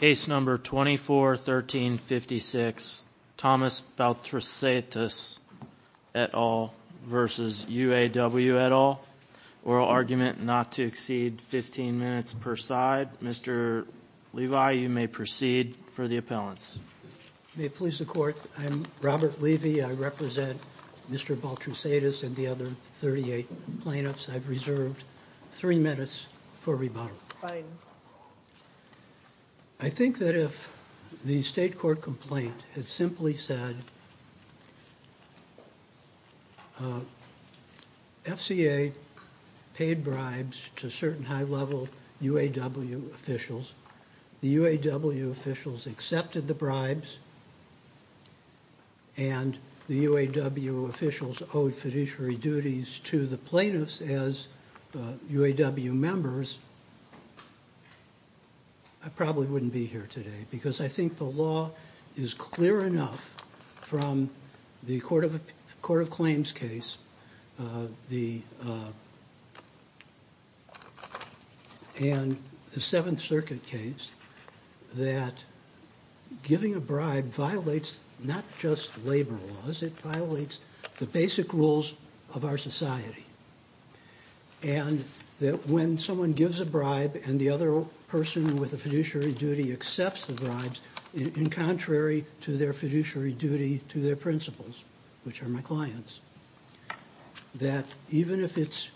Case number 241356 Thomas Baltrusaitis et al. v. UAW et al. Oral argument not to exceed 15 minutes per side. Mr. Levi, you may proceed for the appellants. May it please the court, I'm Robert Levy. I represent Mr. Baltrusaitis and the other 38 plaintiffs. I've reserved three minutes for rebuttal. Fine. I think that if the state court complaint had simply said, FCA paid bribes to certain high level UAW officials, the UAW officials accepted the bribes, and the UAW officials owed fiduciary duties to the plaintiffs as UAW members, I probably wouldn't be here today because I think the law is clear enough from the Court of Claims case, and the Seventh Circuit case, that giving a bribe violates not just labor laws, it violates the basic rules of our society. And that when someone gives a bribe and the other person with a fiduciary duty accepts the bribes, in contrary to their fiduciary duty to their principles, which are my clients. That even if it's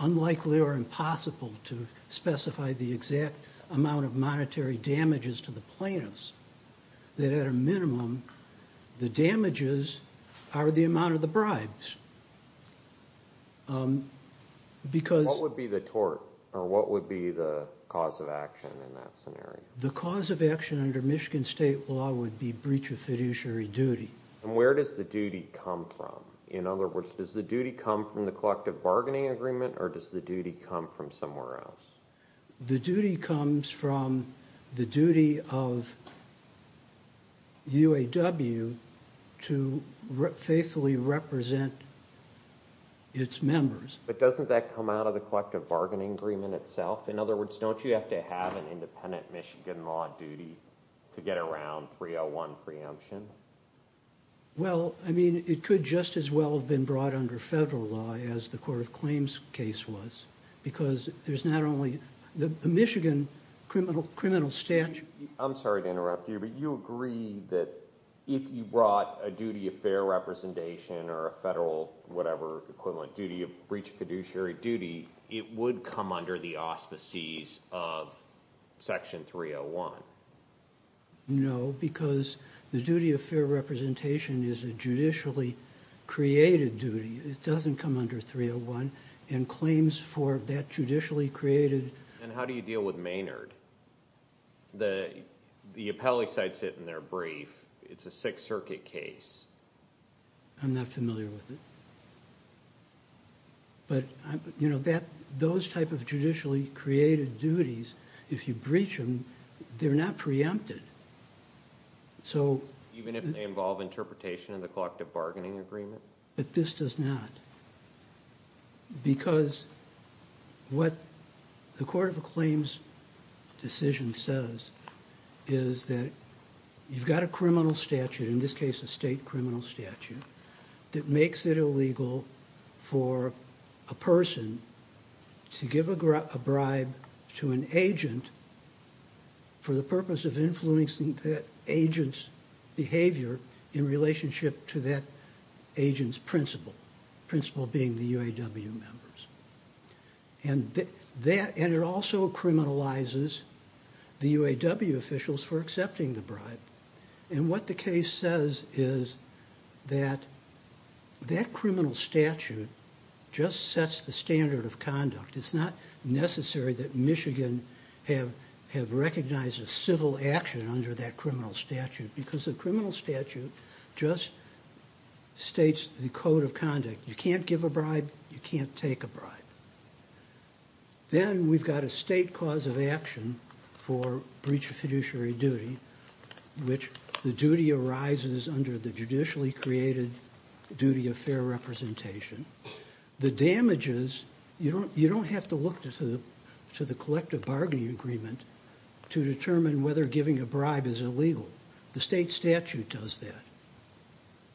unlikely or impossible to specify the exact amount of monetary damages to the plaintiffs, that at a minimum, the damages are the amount of the bribes. What would be the tort, or what would be the cause of action in that scenario? The cause of action under Michigan State law would be breach of fiduciary duty. And where does the duty come from? In other words, does the duty come from the collective bargaining agreement, or does the duty come from somewhere else? The duty comes from the duty of UAW to faithfully represent its members. But doesn't that come out of the collective bargaining agreement itself? In other words, don't you have to have an independent Michigan law duty to get around 301 preemption? Well, I mean, it could just as well have been brought under federal law as the Court of Claims case was, because there's not only the Michigan criminal statute... I'm sorry to interrupt you, but you agree that if you brought a duty of fair representation, or a federal, whatever, equivalent duty of breach of fiduciary duty, it would come under the auspices of Section 301? No, because the duty of fair representation is a judicially created duty. It doesn't come under 301. And claims for that judicially created... And how do you deal with Maynard? The appellee cites it in their brief. It's a Sixth Circuit case. I'm not familiar with it. But, you know, those type of judicially created duties, if you breach them, they're not preempted. So... Even if they involve interpretation of the collective bargaining agreement? But this does not. Because what the Court of Claims decision says is that you've got a criminal statute, in this case a state criminal statute, that makes it illegal for a person to give a bribe to an agent for the purpose of influencing that agent's behavior in relationship to that agent's principle. Principle being the UAW members. And it also criminalizes the UAW officials for accepting the bribe. And what the case says is that that criminal statute just sets the standard of conduct. It's not necessary that Michigan have recognized a civil action under that criminal statute. Because the criminal statute just states the code of conduct. You can't give a bribe, you can't take a bribe. Then we've got a state cause of action for breach of fiduciary duty. Which the duty arises under the judicially created duty of fair representation. The damages, you don't have to look to the collective bargaining agreement to determine whether giving a bribe is illegal. The state statute does that.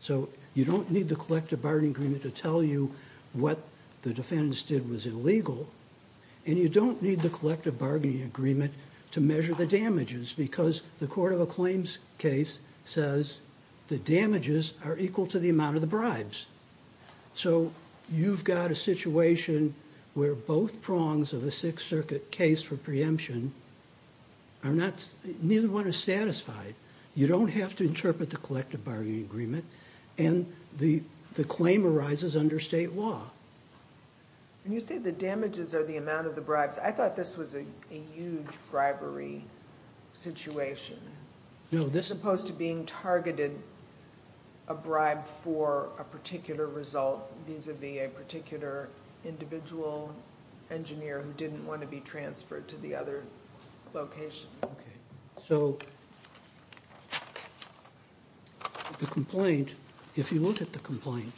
So you don't need the collective bargaining agreement to tell you what the defendants did was illegal. And you don't need the collective bargaining agreement to measure the damages because the court of a claims case says the damages are equal to the amount of the bribes. So you've got a situation where both prongs of the Sixth Circuit case for preemption are not, neither one is satisfied. You don't have to interpret the collective bargaining agreement. And the claim arises under state law. When you say the damages are the amount of the bribes, I thought this was a huge bribery situation. As opposed to being targeted a bribe for a particular result vis-a-vis a particular individual engineer who didn't want to be transferred to the other location. Okay, so the complaint, if you look at the complaint,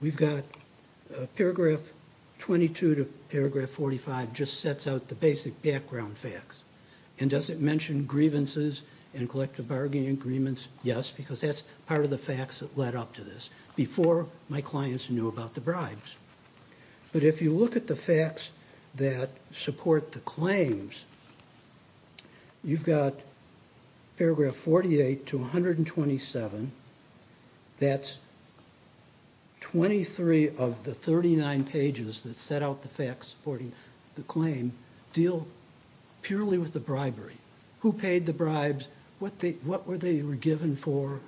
we've got paragraph 22 to paragraph 45 just sets out the basic background facts. And does it mention grievances and collective bargaining agreements? Yes, because that's part of the facts that led up to this before my clients knew about the bribes. But if you look at the facts that support the claims, you've got paragraph 48 to 127. That's 23 of the 39 pages that set out the facts supporting the claim deal purely with the bribery. Who paid the bribes? What were they given for?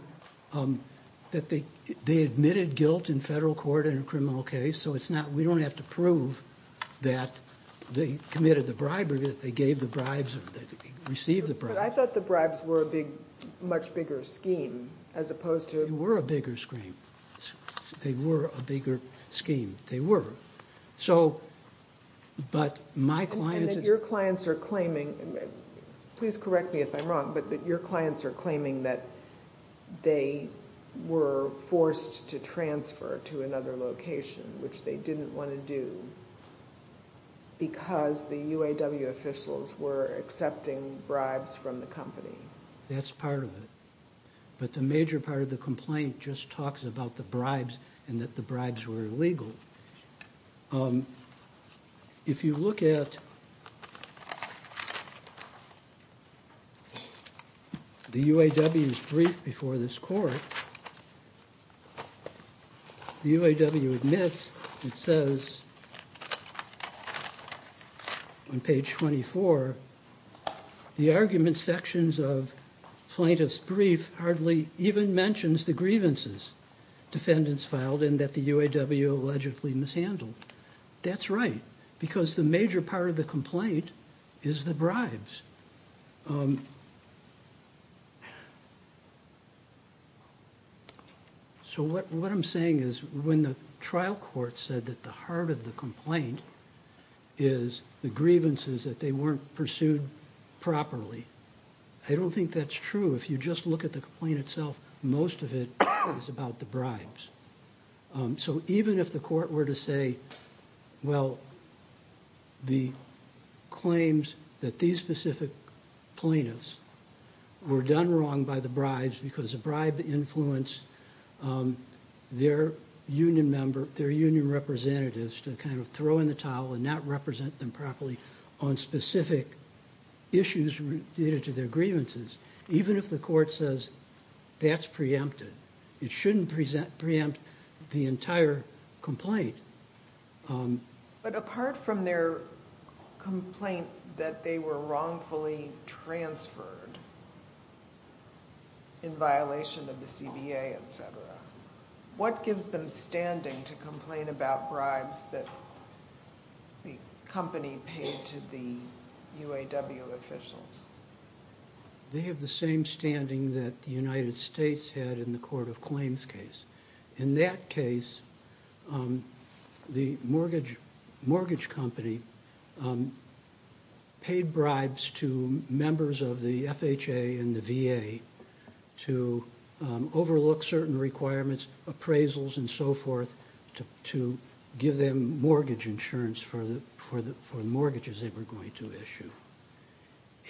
They admitted guilt in federal court in a criminal case, so we don't have to prove that they committed the bribery, that they gave the bribes, received the bribes. But I thought the bribes were a much bigger scheme as opposed to... They were a bigger scheme. They were a bigger scheme. They were. So, but my clients... Your clients are claiming, please correct me if I'm wrong, but your clients are claiming that they were forced to transfer to another location, which they didn't want to do because the UAW officials were accepting bribes from the company. That's part of it. But the major part of the complaint just talks about the bribes and that the bribes were illegal. If you look at the UAW's brief before this court, the UAW admits and says on page 24, the argument sections of plaintiff's brief hardly even mentions the grievances defendants filed and that the UAW allegedly mishandled. That's right because the major part of the complaint is the bribes. So what I'm saying is when the trial court said that the heart of the complaint is the grievances that they weren't pursued properly, I don't think that's true. If you just look at the complaint itself, most of it is about the bribes. So even if the court were to say, well, the claims that these specific plaintiffs were done wrong by the bribes because the bribe influenced their union representatives to kind of throw in the towel and not represent them properly on specific issues related to their grievances, even if the court says that's preempted, it shouldn't preempt the entire complaint. But apart from their complaint that they were wrongfully transferred in violation of the CBA, etc., what gives them standing to complain about bribes that the company paid to the UAW officials? They have the same standing that the United States had in the court of claims case. In that case, the mortgage company paid bribes to members of the FHA and the VA to overlook certain requirements, appraisals and so forth, to give them mortgage insurance for the mortgages they were going to issue.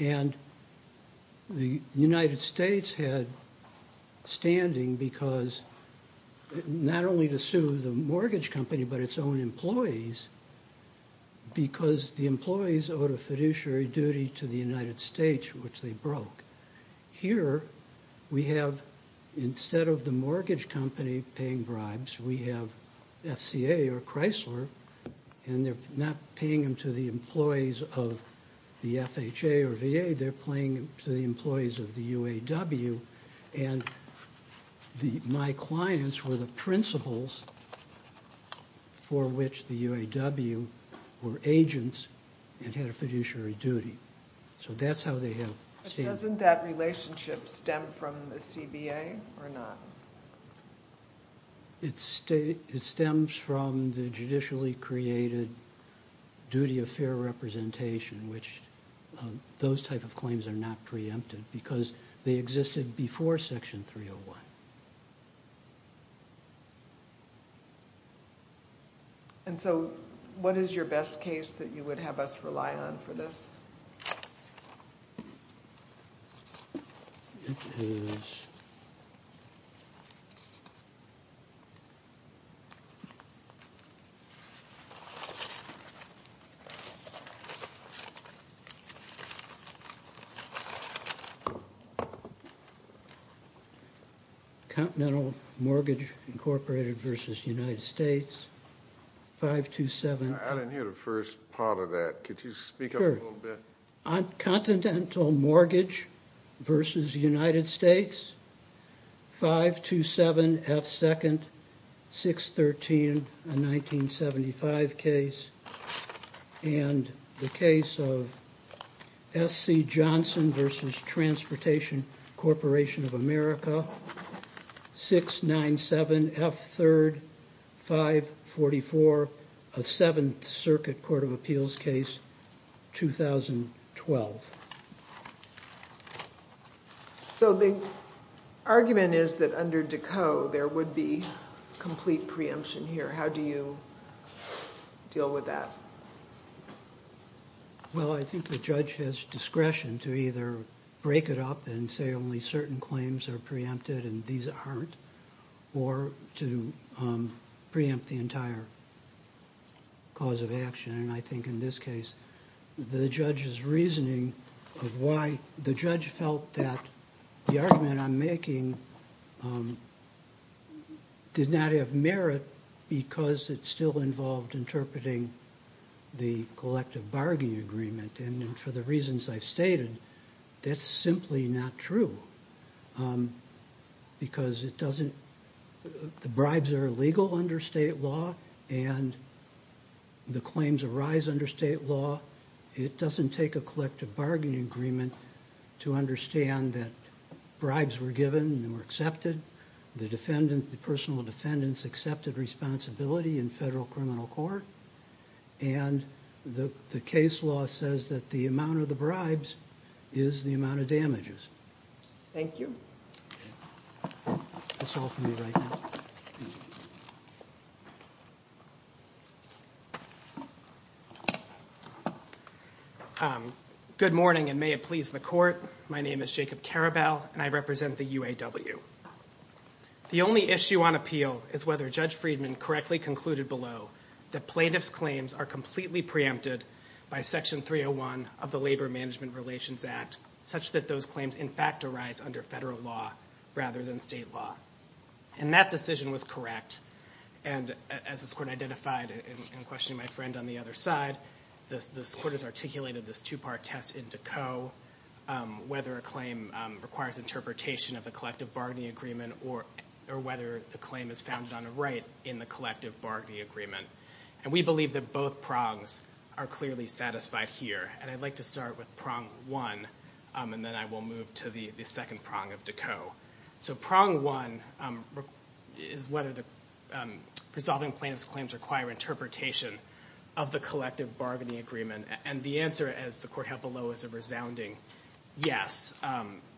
And the United States had standing because not only to sue the mortgage company but its own employees because the employees owed a fiduciary duty to the United States, which they broke. Here we have, instead of the mortgage company paying bribes, we have FCA or Chrysler, and they're not paying them to the employees of the FHA or VA, they're paying them to the employees of the UAW. And my clients were the principals for which the UAW were agents and had a fiduciary duty. So that's how they have standing. But doesn't that relationship stem from the CBA or not? It stems from the judicially created duty of fair representation, which those type of claims are not preempted because they existed before Section 301. And so what is your best case that you would have us rely on for this? Continental Mortgage, Inc. v. United States, 527- I didn't hear the first part of that. Could you speak up a little bit? Sure. Continental Mortgage v. United States, 527-F2-613, a 1975 case, and the case of S.C. Johnson v. Transportation Corporation of America, 697-F3-544, a Seventh Circuit Court of Appeals case, 2012. So the argument is that under Decaux, there would be complete preemption here. How do you deal with that? Well, I think the judge has discretion to either break it up and say only certain claims are preempted and these aren't, or to preempt the entire cause of action. And I think in this case, the judge's reasoning of why the judge felt that the argument I'm making did not have merit because it still involved interpreting the collective bargaining agreement. And for the reasons I've stated, that's simply not true because the bribes are illegal under state law and the claims arise under state law. It doesn't take a collective bargaining agreement to understand that bribes were given and were accepted, the personal defendants accepted responsibility in federal criminal court, and the case law says that the amount of the bribes is the amount of damages. Thank you. Good morning, and may it please the Court. My name is Jacob Karabell, and I represent the UAW. The only issue on appeal is whether Judge Friedman correctly concluded below that plaintiff's claims are completely preempted by Section 301 of the Labor Management Relations Act, such that those claims in fact arise under federal law rather than state law. And that decision was correct, and as this Court identified in questioning my friend on the other side, this Court has articulated this two-part test in Decaux, whether a claim requires interpretation of the collective bargaining agreement or whether the claim is founded on a right in the collective bargaining agreement. And we believe that both prongs are clearly satisfied here, and I'd like to start with prong one, and then I will move to the second prong of Decaux. So prong one is whether the resolving plaintiff's claims require interpretation of the collective bargaining agreement, and the answer, as the Court held below, is a resounding yes.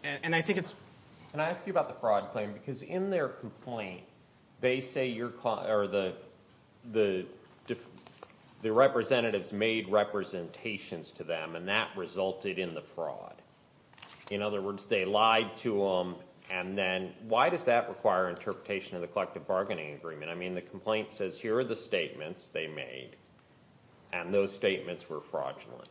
And I think it's... Can I ask you about the fraud claim? Because in their complaint, they say the representatives made representations to them, and that resulted in the fraud. In other words, they lied to them, and then why does that require interpretation of the collective bargaining agreement? I mean, the complaint says here are the statements they made, and those statements were fraudulent.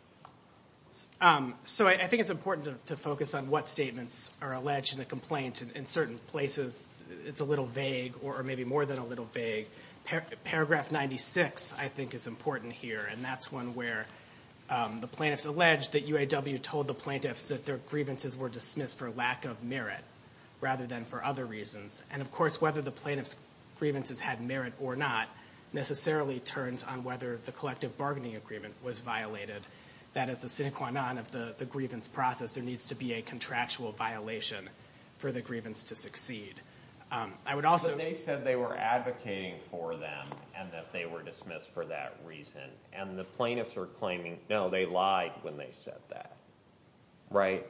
So I think it's important to focus on what statements are alleged in the complaint. In certain places, it's a little vague or maybe more than a little vague. Paragraph 96, I think, is important here, and that's one where the plaintiffs allege that UAW told the plaintiffs that their grievances were dismissed for lack of merit rather than for other reasons. And, of course, whether the plaintiffs' grievances had merit or not necessarily turns on whether the collective bargaining agreement was violated. That is the sine qua non of the grievance process. There needs to be a contractual violation for the grievance to succeed. I would also... But they said they were advocating for them and that they were dismissed for that reason, and the plaintiffs are claiming, no, they lied when they said that, right?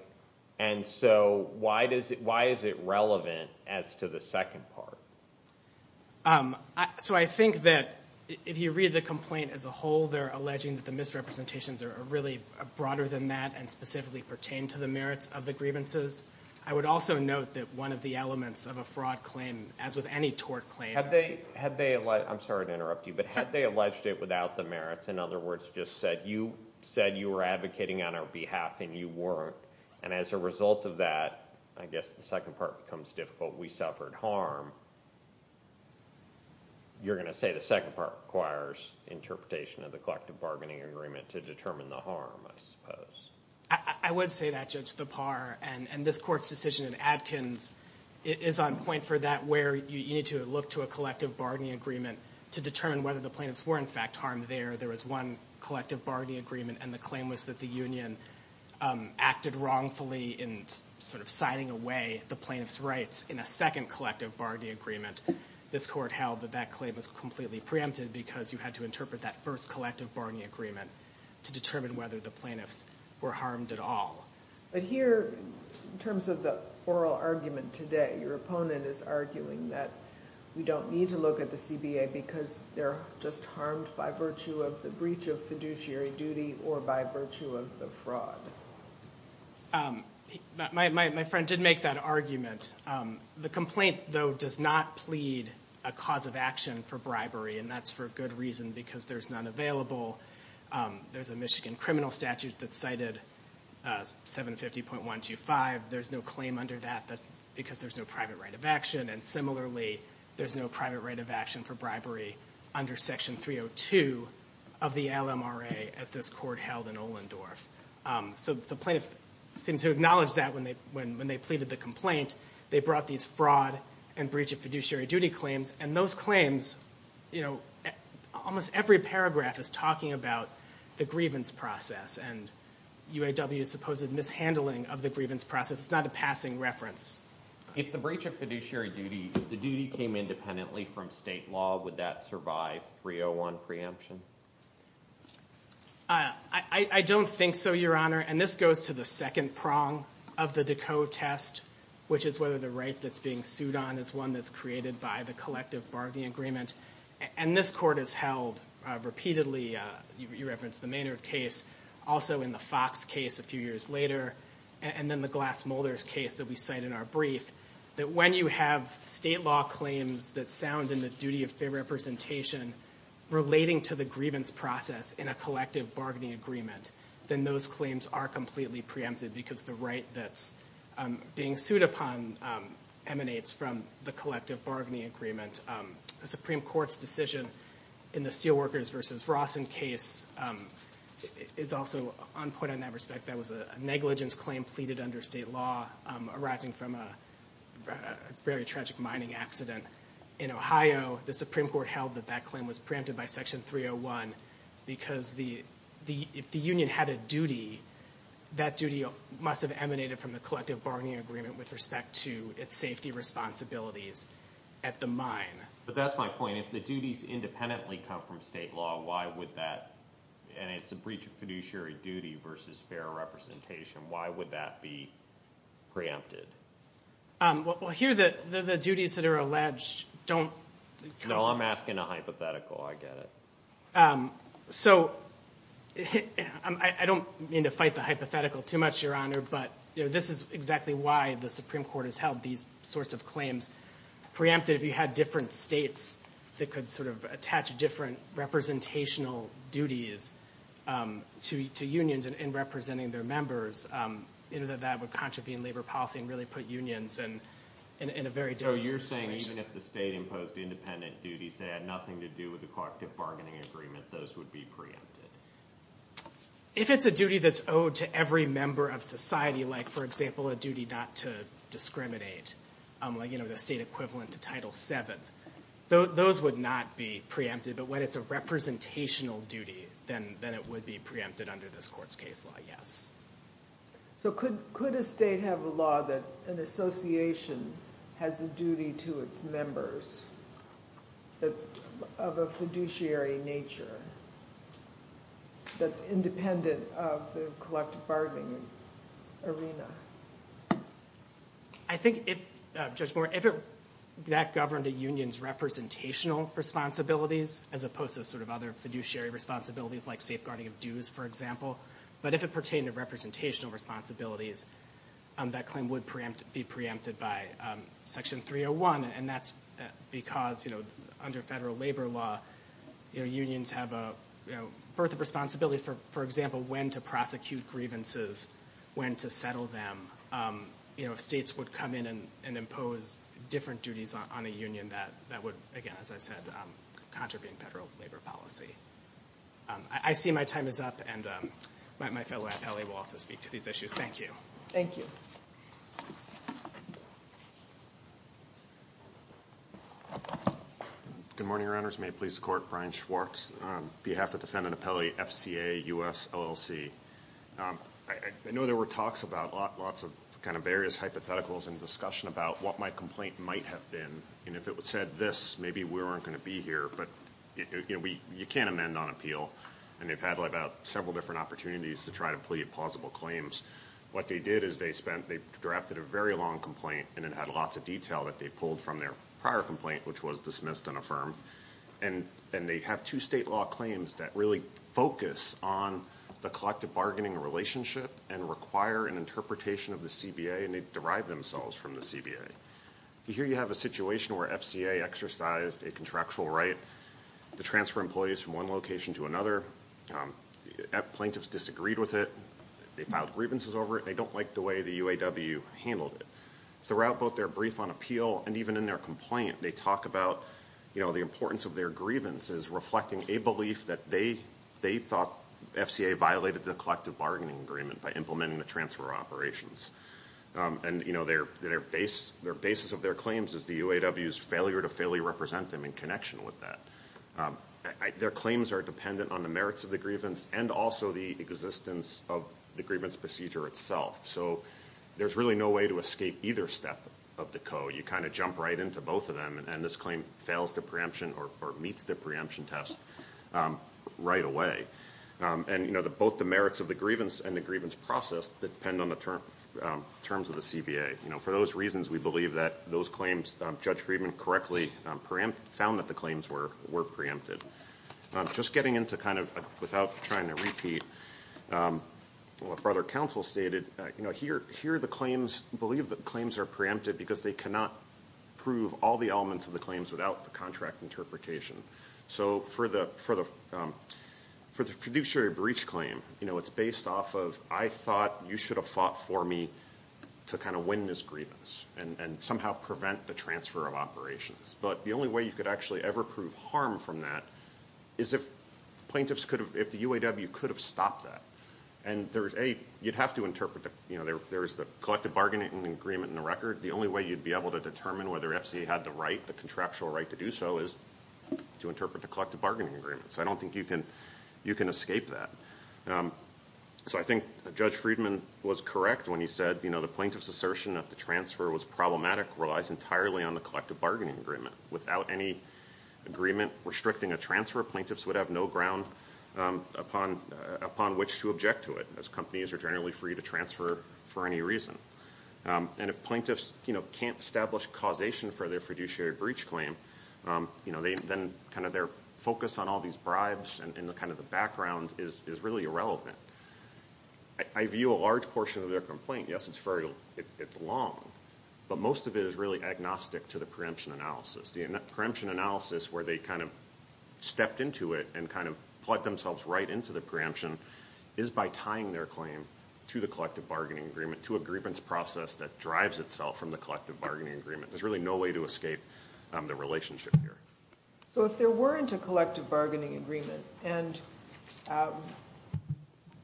And so why is it relevant as to the second part? So I think that if you read the complaint as a whole, they're alleging that the misrepresentations are really broader than that and specifically pertain to the merits of the grievances. I would also note that one of the elements of a fraud claim, as with any tort claim... Had they... I'm sorry to interrupt you, but had they alleged it without the merits, in other words, just said you said you were advocating on our behalf and you weren't, and as a result of that, I guess the second part becomes difficult. We suffered harm. You're going to say the second part requires interpretation of the collective bargaining agreement to determine the harm, I suppose. I would say that, Judge Thapar, and this Court's decision in Adkins is on point for that where you need to look to a collective bargaining agreement to determine whether the plaintiffs were, in fact, harmed there. There was one collective bargaining agreement, and the claim was that the union acted wrongfully in sort of signing away the plaintiffs' rights in a second collective bargaining agreement. This Court held that that claim was completely preempted because you had to interpret that first collective bargaining agreement to determine whether the plaintiffs were harmed at all. But here, in terms of the oral argument today, your opponent is arguing that we don't need to look at the CBA because they're just harmed by virtue of the breach of fiduciary duty or by virtue of the fraud. My friend did make that argument. The complaint, though, does not plead a cause of action for bribery, and that's for good reason because there's none available. There's a Michigan criminal statute that cited 750.125. There's no claim under that. That's because there's no private right of action, and similarly there's no private right of action for bribery under Section 302 of the LMRA as this Court held in Ohlendorf. So the plaintiff seemed to acknowledge that when they pleaded the complaint. They brought these fraud and breach of fiduciary duty claims, and those claims, almost every paragraph is talking about the grievance process and UAW's supposed mishandling of the grievance process. It's not a passing reference. If the breach of fiduciary duty, the duty came independently from state law, would that survive 301 preemption? I don't think so, Your Honor, and this goes to the second prong of the DeCote test, which is whether the right that's being sued on is one that's created by the collective bargaining agreement, and this Court has held repeatedly. You referenced the Maynard case, also in the Fox case a few years later, and then the Glass-Mulders case that we cite in our brief, that when you have state law claims that sound in the duty of fair representation relating to the grievance process in a collective bargaining agreement, then those claims are completely preempted because the right that's being sued upon emanates from the collective bargaining agreement. The Supreme Court's decision in the Steelworkers v. Rawson case is also on point in that respect. That was a negligence claim pleaded under state law arising from a very tragic mining accident in Ohio. The Supreme Court held that that claim was preempted by Section 301 because if the union had a duty, that duty must have emanated from the collective bargaining agreement with respect to its safety responsibilities at the mine. But that's my point. If the duties independently come from state law, why would that? And it's a breach of fiduciary duty versus fair representation. Why would that be preempted? Well, here the duties that are alleged don't come. No, I'm asking a hypothetical. I get it. So I don't mean to fight the hypothetical too much, Your Honor, but this is exactly why the Supreme Court has held these sorts of claims preempted. If you had different states that could sort of attach different representational duties to unions and representing their members, that would contravene labor policy and really put unions in a very dangerous situation. So you're saying even if the state imposed independent duties that had nothing to do with the collective bargaining agreement, those would be preempted? If it's a duty that's owed to every member of society, like, for example, a duty not to discriminate, like, you know, the state equivalent to Title VII, those would not be preempted. But when it's a representational duty, then it would be preempted under this Court's case law, yes. So could a state have a law that an association has a duty to its members of a fiduciary nature that's independent of the collective bargaining arena? I think, Judge Moore, if that governed a union's representational responsibilities, as opposed to sort of other fiduciary responsibilities like safeguarding of dues, for example, but if it pertained to representational responsibilities, that claim would be preempted by Section 301. And that's because, you know, under federal labor law, unions have a, you know, a wealth of responsibilities, for example, when to prosecute grievances, when to settle them. You know, if states would come in and impose different duties on a union, that would, again, as I said, contravene federal labor policy. I see my time is up, and my fellow appellee will also speak to these issues. Thank you. Thank you. Good morning, Your Honors. May it please the Court. Brian Schwartz on behalf of Defendant Appellee, FCA, U.S. LLC. I know there were talks about lots of kind of various hypotheticals and discussion about what my complaint might have been. And if it said this, maybe we weren't going to be here. But, you know, you can't amend on appeal, and they've had about several different opportunities to try to plead plausible claims. What they did is they spent, they drafted a very long complaint, and it had lots of detail that they pulled from their prior complaint, which was dismissed and affirmed. And they have two state law claims that really focus on the collective bargaining relationship and require an interpretation of the CBA, and they derived themselves from the CBA. Here you have a situation where FCA exercised a contractual right to transfer employees from one location to another. Plaintiffs disagreed with it. They filed grievances over it. They don't like the way the UAW handled it. Throughout both their brief on appeal and even in their complaint, they talk about, you know, the importance of their grievances, reflecting a belief that they thought FCA violated the collective bargaining agreement by implementing the transfer operations. And, you know, their basis of their claims is the UAW's failure to fairly represent them in connection with that. Their claims are dependent on the merits of the grievance and also the existence of the grievance procedure itself. So there's really no way to escape either step of the code. You know, you kind of jump right into both of them, and this claim fails the preemption or meets the preemption test right away. And, you know, both the merits of the grievance and the grievance process depend on the terms of the CBA. You know, for those reasons, we believe that those claims, Judge Friedman correctly found that the claims were preempted. Just getting into kind of without trying to repeat what Brother Counsel stated, you know, here the claims believe that claims are preempted because they cannot prove all the elements of the claims without the contract interpretation. So for the fiduciary breach claim, you know, it's based off of, I thought you should have fought for me to kind of win this grievance and somehow prevent the transfer of operations. But the only way you could actually ever prove harm from that is if plaintiffs could have, if the UAW could have stopped that. And, A, you'd have to interpret, you know, there's the collective bargaining agreement in the record. The only way you'd be able to determine whether FCA had the right, the contractual right to do so, is to interpret the collective bargaining agreement. So I don't think you can escape that. So I think Judge Friedman was correct when he said, you know, the plaintiff's assertion that the transfer was problematic relies entirely on the collective bargaining agreement. Without any agreement restricting a transfer, plaintiffs would have no ground upon which to object to it, as companies are generally free to transfer for any reason. And if plaintiffs, you know, can't establish causation for their fiduciary breach claim, you know, then kind of their focus on all these bribes and kind of the background is really irrelevant. I view a large portion of their complaint, yes, it's long, but most of it is really agnostic to the preemption analysis. The preemption analysis where they kind of stepped into it and kind of plugged themselves right into the preemption is by tying their claim to the collective bargaining agreement, to a grievance process that drives itself from the collective bargaining agreement. There's really no way to escape the relationship here. So if there weren't a collective bargaining agreement and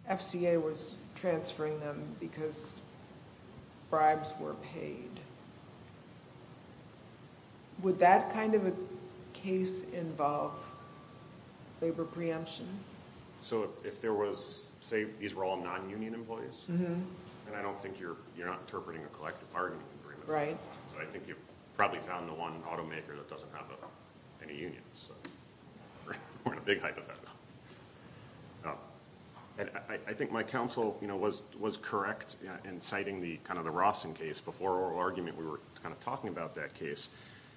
FCA was transferring them because bribes were paid, would that kind of a case involve labor preemption? So if there was, say these were all non-union employees, and I don't think you're not interpreting a collective bargaining agreement, I think you've probably found the one automaker that doesn't have any unions. We're in a big hypothetical. I think my counsel was correct in citing kind of the Rawson case. Before oral argument we were kind of talking about that case.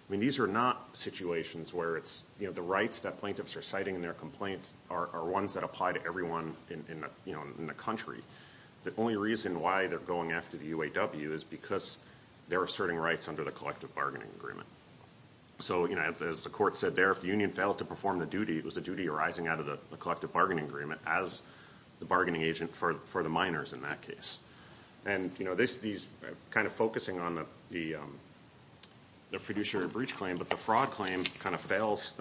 I mean these are not situations where the rights that plaintiffs are citing in their complaints are ones that apply to everyone in the country. The only reason why they're going after the UAW is because they're asserting rights under the collective bargaining agreement. So as the court said there, if the union failed to perform the duty, it was a duty arising out of the collective bargaining agreement as the bargaining agent for the minors in that case. And kind of focusing on the fiduciary breach claim, but the fraud claim kind of fails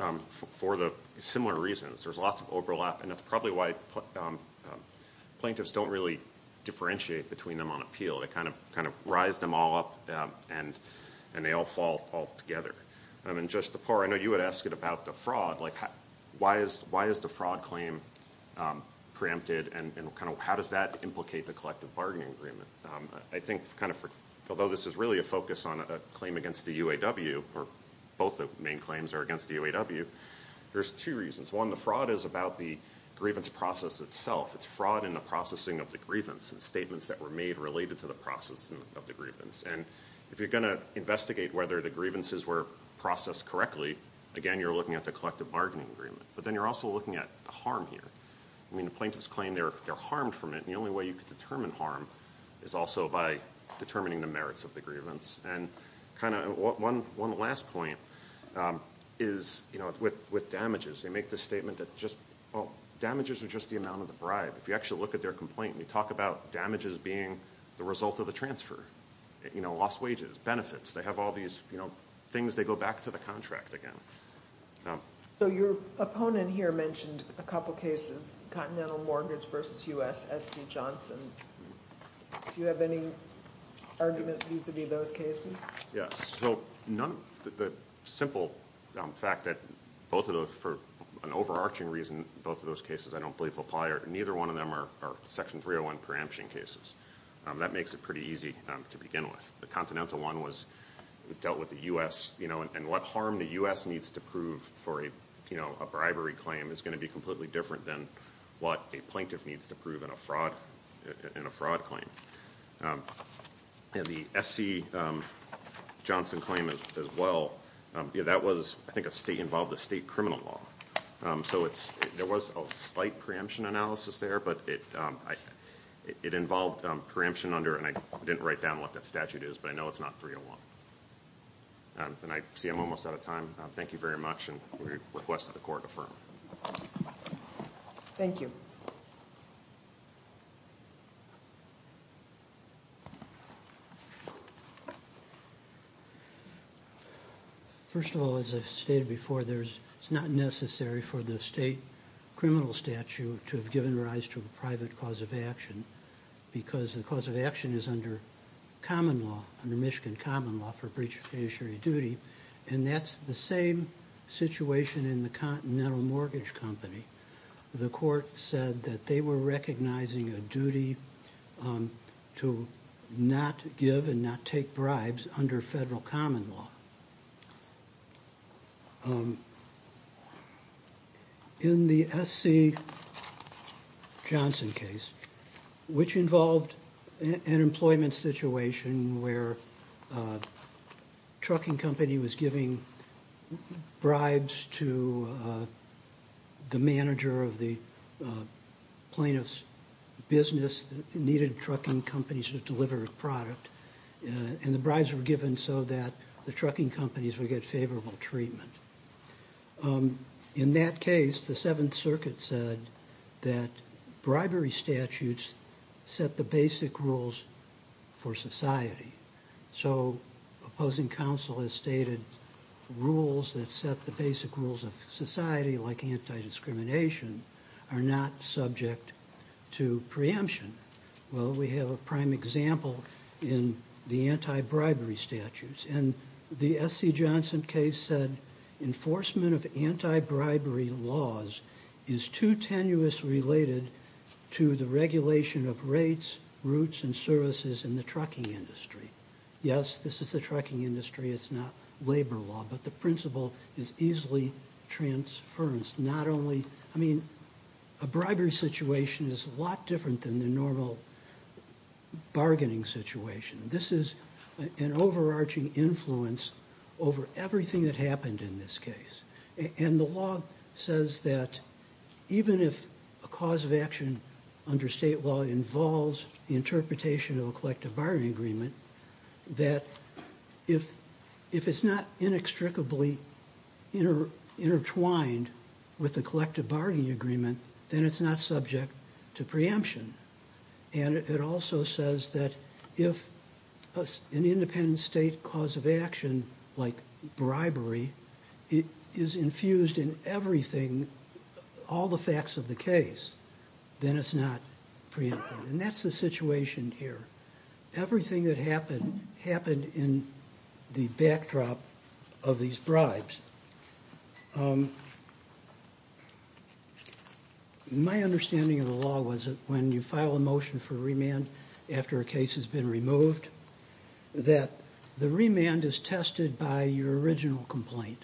for the similar reasons. There's lots of overlap, and that's probably why plaintiffs don't really differentiate between them on appeal. They kind of rise them all up and they all fall altogether. And Judge DePore, I know you had asked it about the fraud. Why is the fraud claim preempted, and how does that implicate the collective bargaining agreement? I think although this is really a focus on a claim against the UAW, or both the main claims are against the UAW, there's two reasons. One, the fraud is about the grievance process itself. It's fraud in the processing of the grievance and statements that were made related to the processing of the grievance. And if you're going to investigate whether the grievances were processed correctly, again, you're looking at the collective bargaining agreement. But then you're also looking at the harm here. I mean, the plaintiffs claim they're harmed from it, and the only way you can determine harm is also by determining the merits of the grievance. And kind of one last point is with damages. They make the statement that damages are just the amount of the bribe. If you actually look at their complaint, you talk about damages being the result of a transfer, lost wages, benefits. They have all these things. They go back to the contract again. So your opponent here mentioned a couple cases, continental mortgage versus U.S.S.D. Johnson. Do you have any argument vis-a-vis those cases? Yes. So the simple fact that both of those, for an overarching reason, both of those cases I don't believe apply, or neither one of them are Section 301 preemption cases. That makes it pretty easy to begin with. The continental one was dealt with the U.S. and what harm the U.S. needs to prove for a bribery claim is going to be completely different than what a plaintiff needs to prove in a fraud claim. The S.C. Johnson claim as well, that was, I think, a state-involved, a state criminal law. So there was a slight preemption analysis there, but it involved preemption under, and I didn't write down what that statute is, but I know it's not 301. I see I'm almost out of time. Thank you very much, and we request that the Court affirm. Thank you. First of all, as I've stated before, it's not necessary for the state criminal statute to have given rise to a private cause of action because the cause of action is under common law, under Michigan common law for breach of fiduciary duty, and that's the same situation in the Continental Mortgage Company. The Court said that they were recognizing a duty to not give and not take bribes under federal common law. In the S.C. Johnson case, which involved an employment situation where a trucking company was giving bribes to the manager of the plaintiff's business that needed trucking companies to deliver a product, and the bribes were given so that the trucking companies would get favorable treatment. In that case, the Seventh Circuit said that bribery statutes set the basic rules for society. So opposing counsel has stated rules that set the basic rules of society, like anti-discrimination, are not subject to preemption. Well, we have a prime example in the anti-bribery statutes, and the S.C. Johnson case said enforcement of anti-bribery laws is too tenuous related to the regulation of rates, routes, and services in the trucking industry. Yes, this is the trucking industry. It's not labor law. But the principle is easily transference. Not only, I mean, a bribery situation is a lot different than the normal bargaining situation. This is an overarching influence over everything that happened in this case. And the law says that even if a cause of action under state law involves the interpretation of a collective bargaining agreement, that if it's not inextricably intertwined with the collective bargaining agreement, then it's not subject to preemption. And it also says that if an independent state cause of action, like bribery, is infused in everything, all the facts of the case, then it's not preempted. And that's the situation here. Everything that happened happened in the backdrop of these bribes. My understanding of the law was that when you file a motion for remand after a case has been removed, that the remand is tested by your original complaint.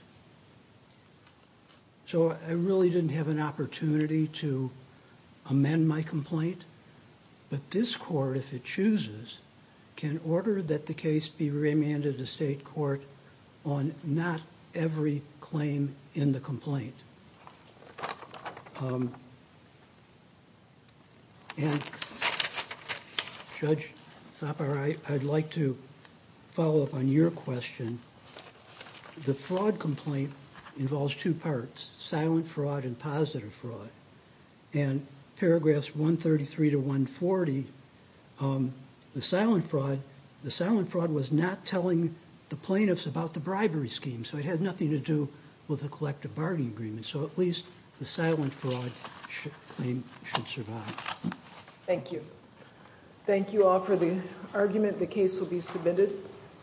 So I really didn't have an opportunity to amend my complaint. But this court, if it chooses, can order that the case be remanded to state court on not every claim in the complaint. And, Judge Thapar, I'd like to follow up on your question. The fraud complaint involves two parts, silent fraud and positive fraud. And paragraphs 133 to 140, the silent fraud was not telling the plaintiffs about the bribery scheme. So it had nothing to do with the collective bargaining agreement. So at least the silent fraud claim should survive. Thank you. Thank you all for the argument. The case will be submitted.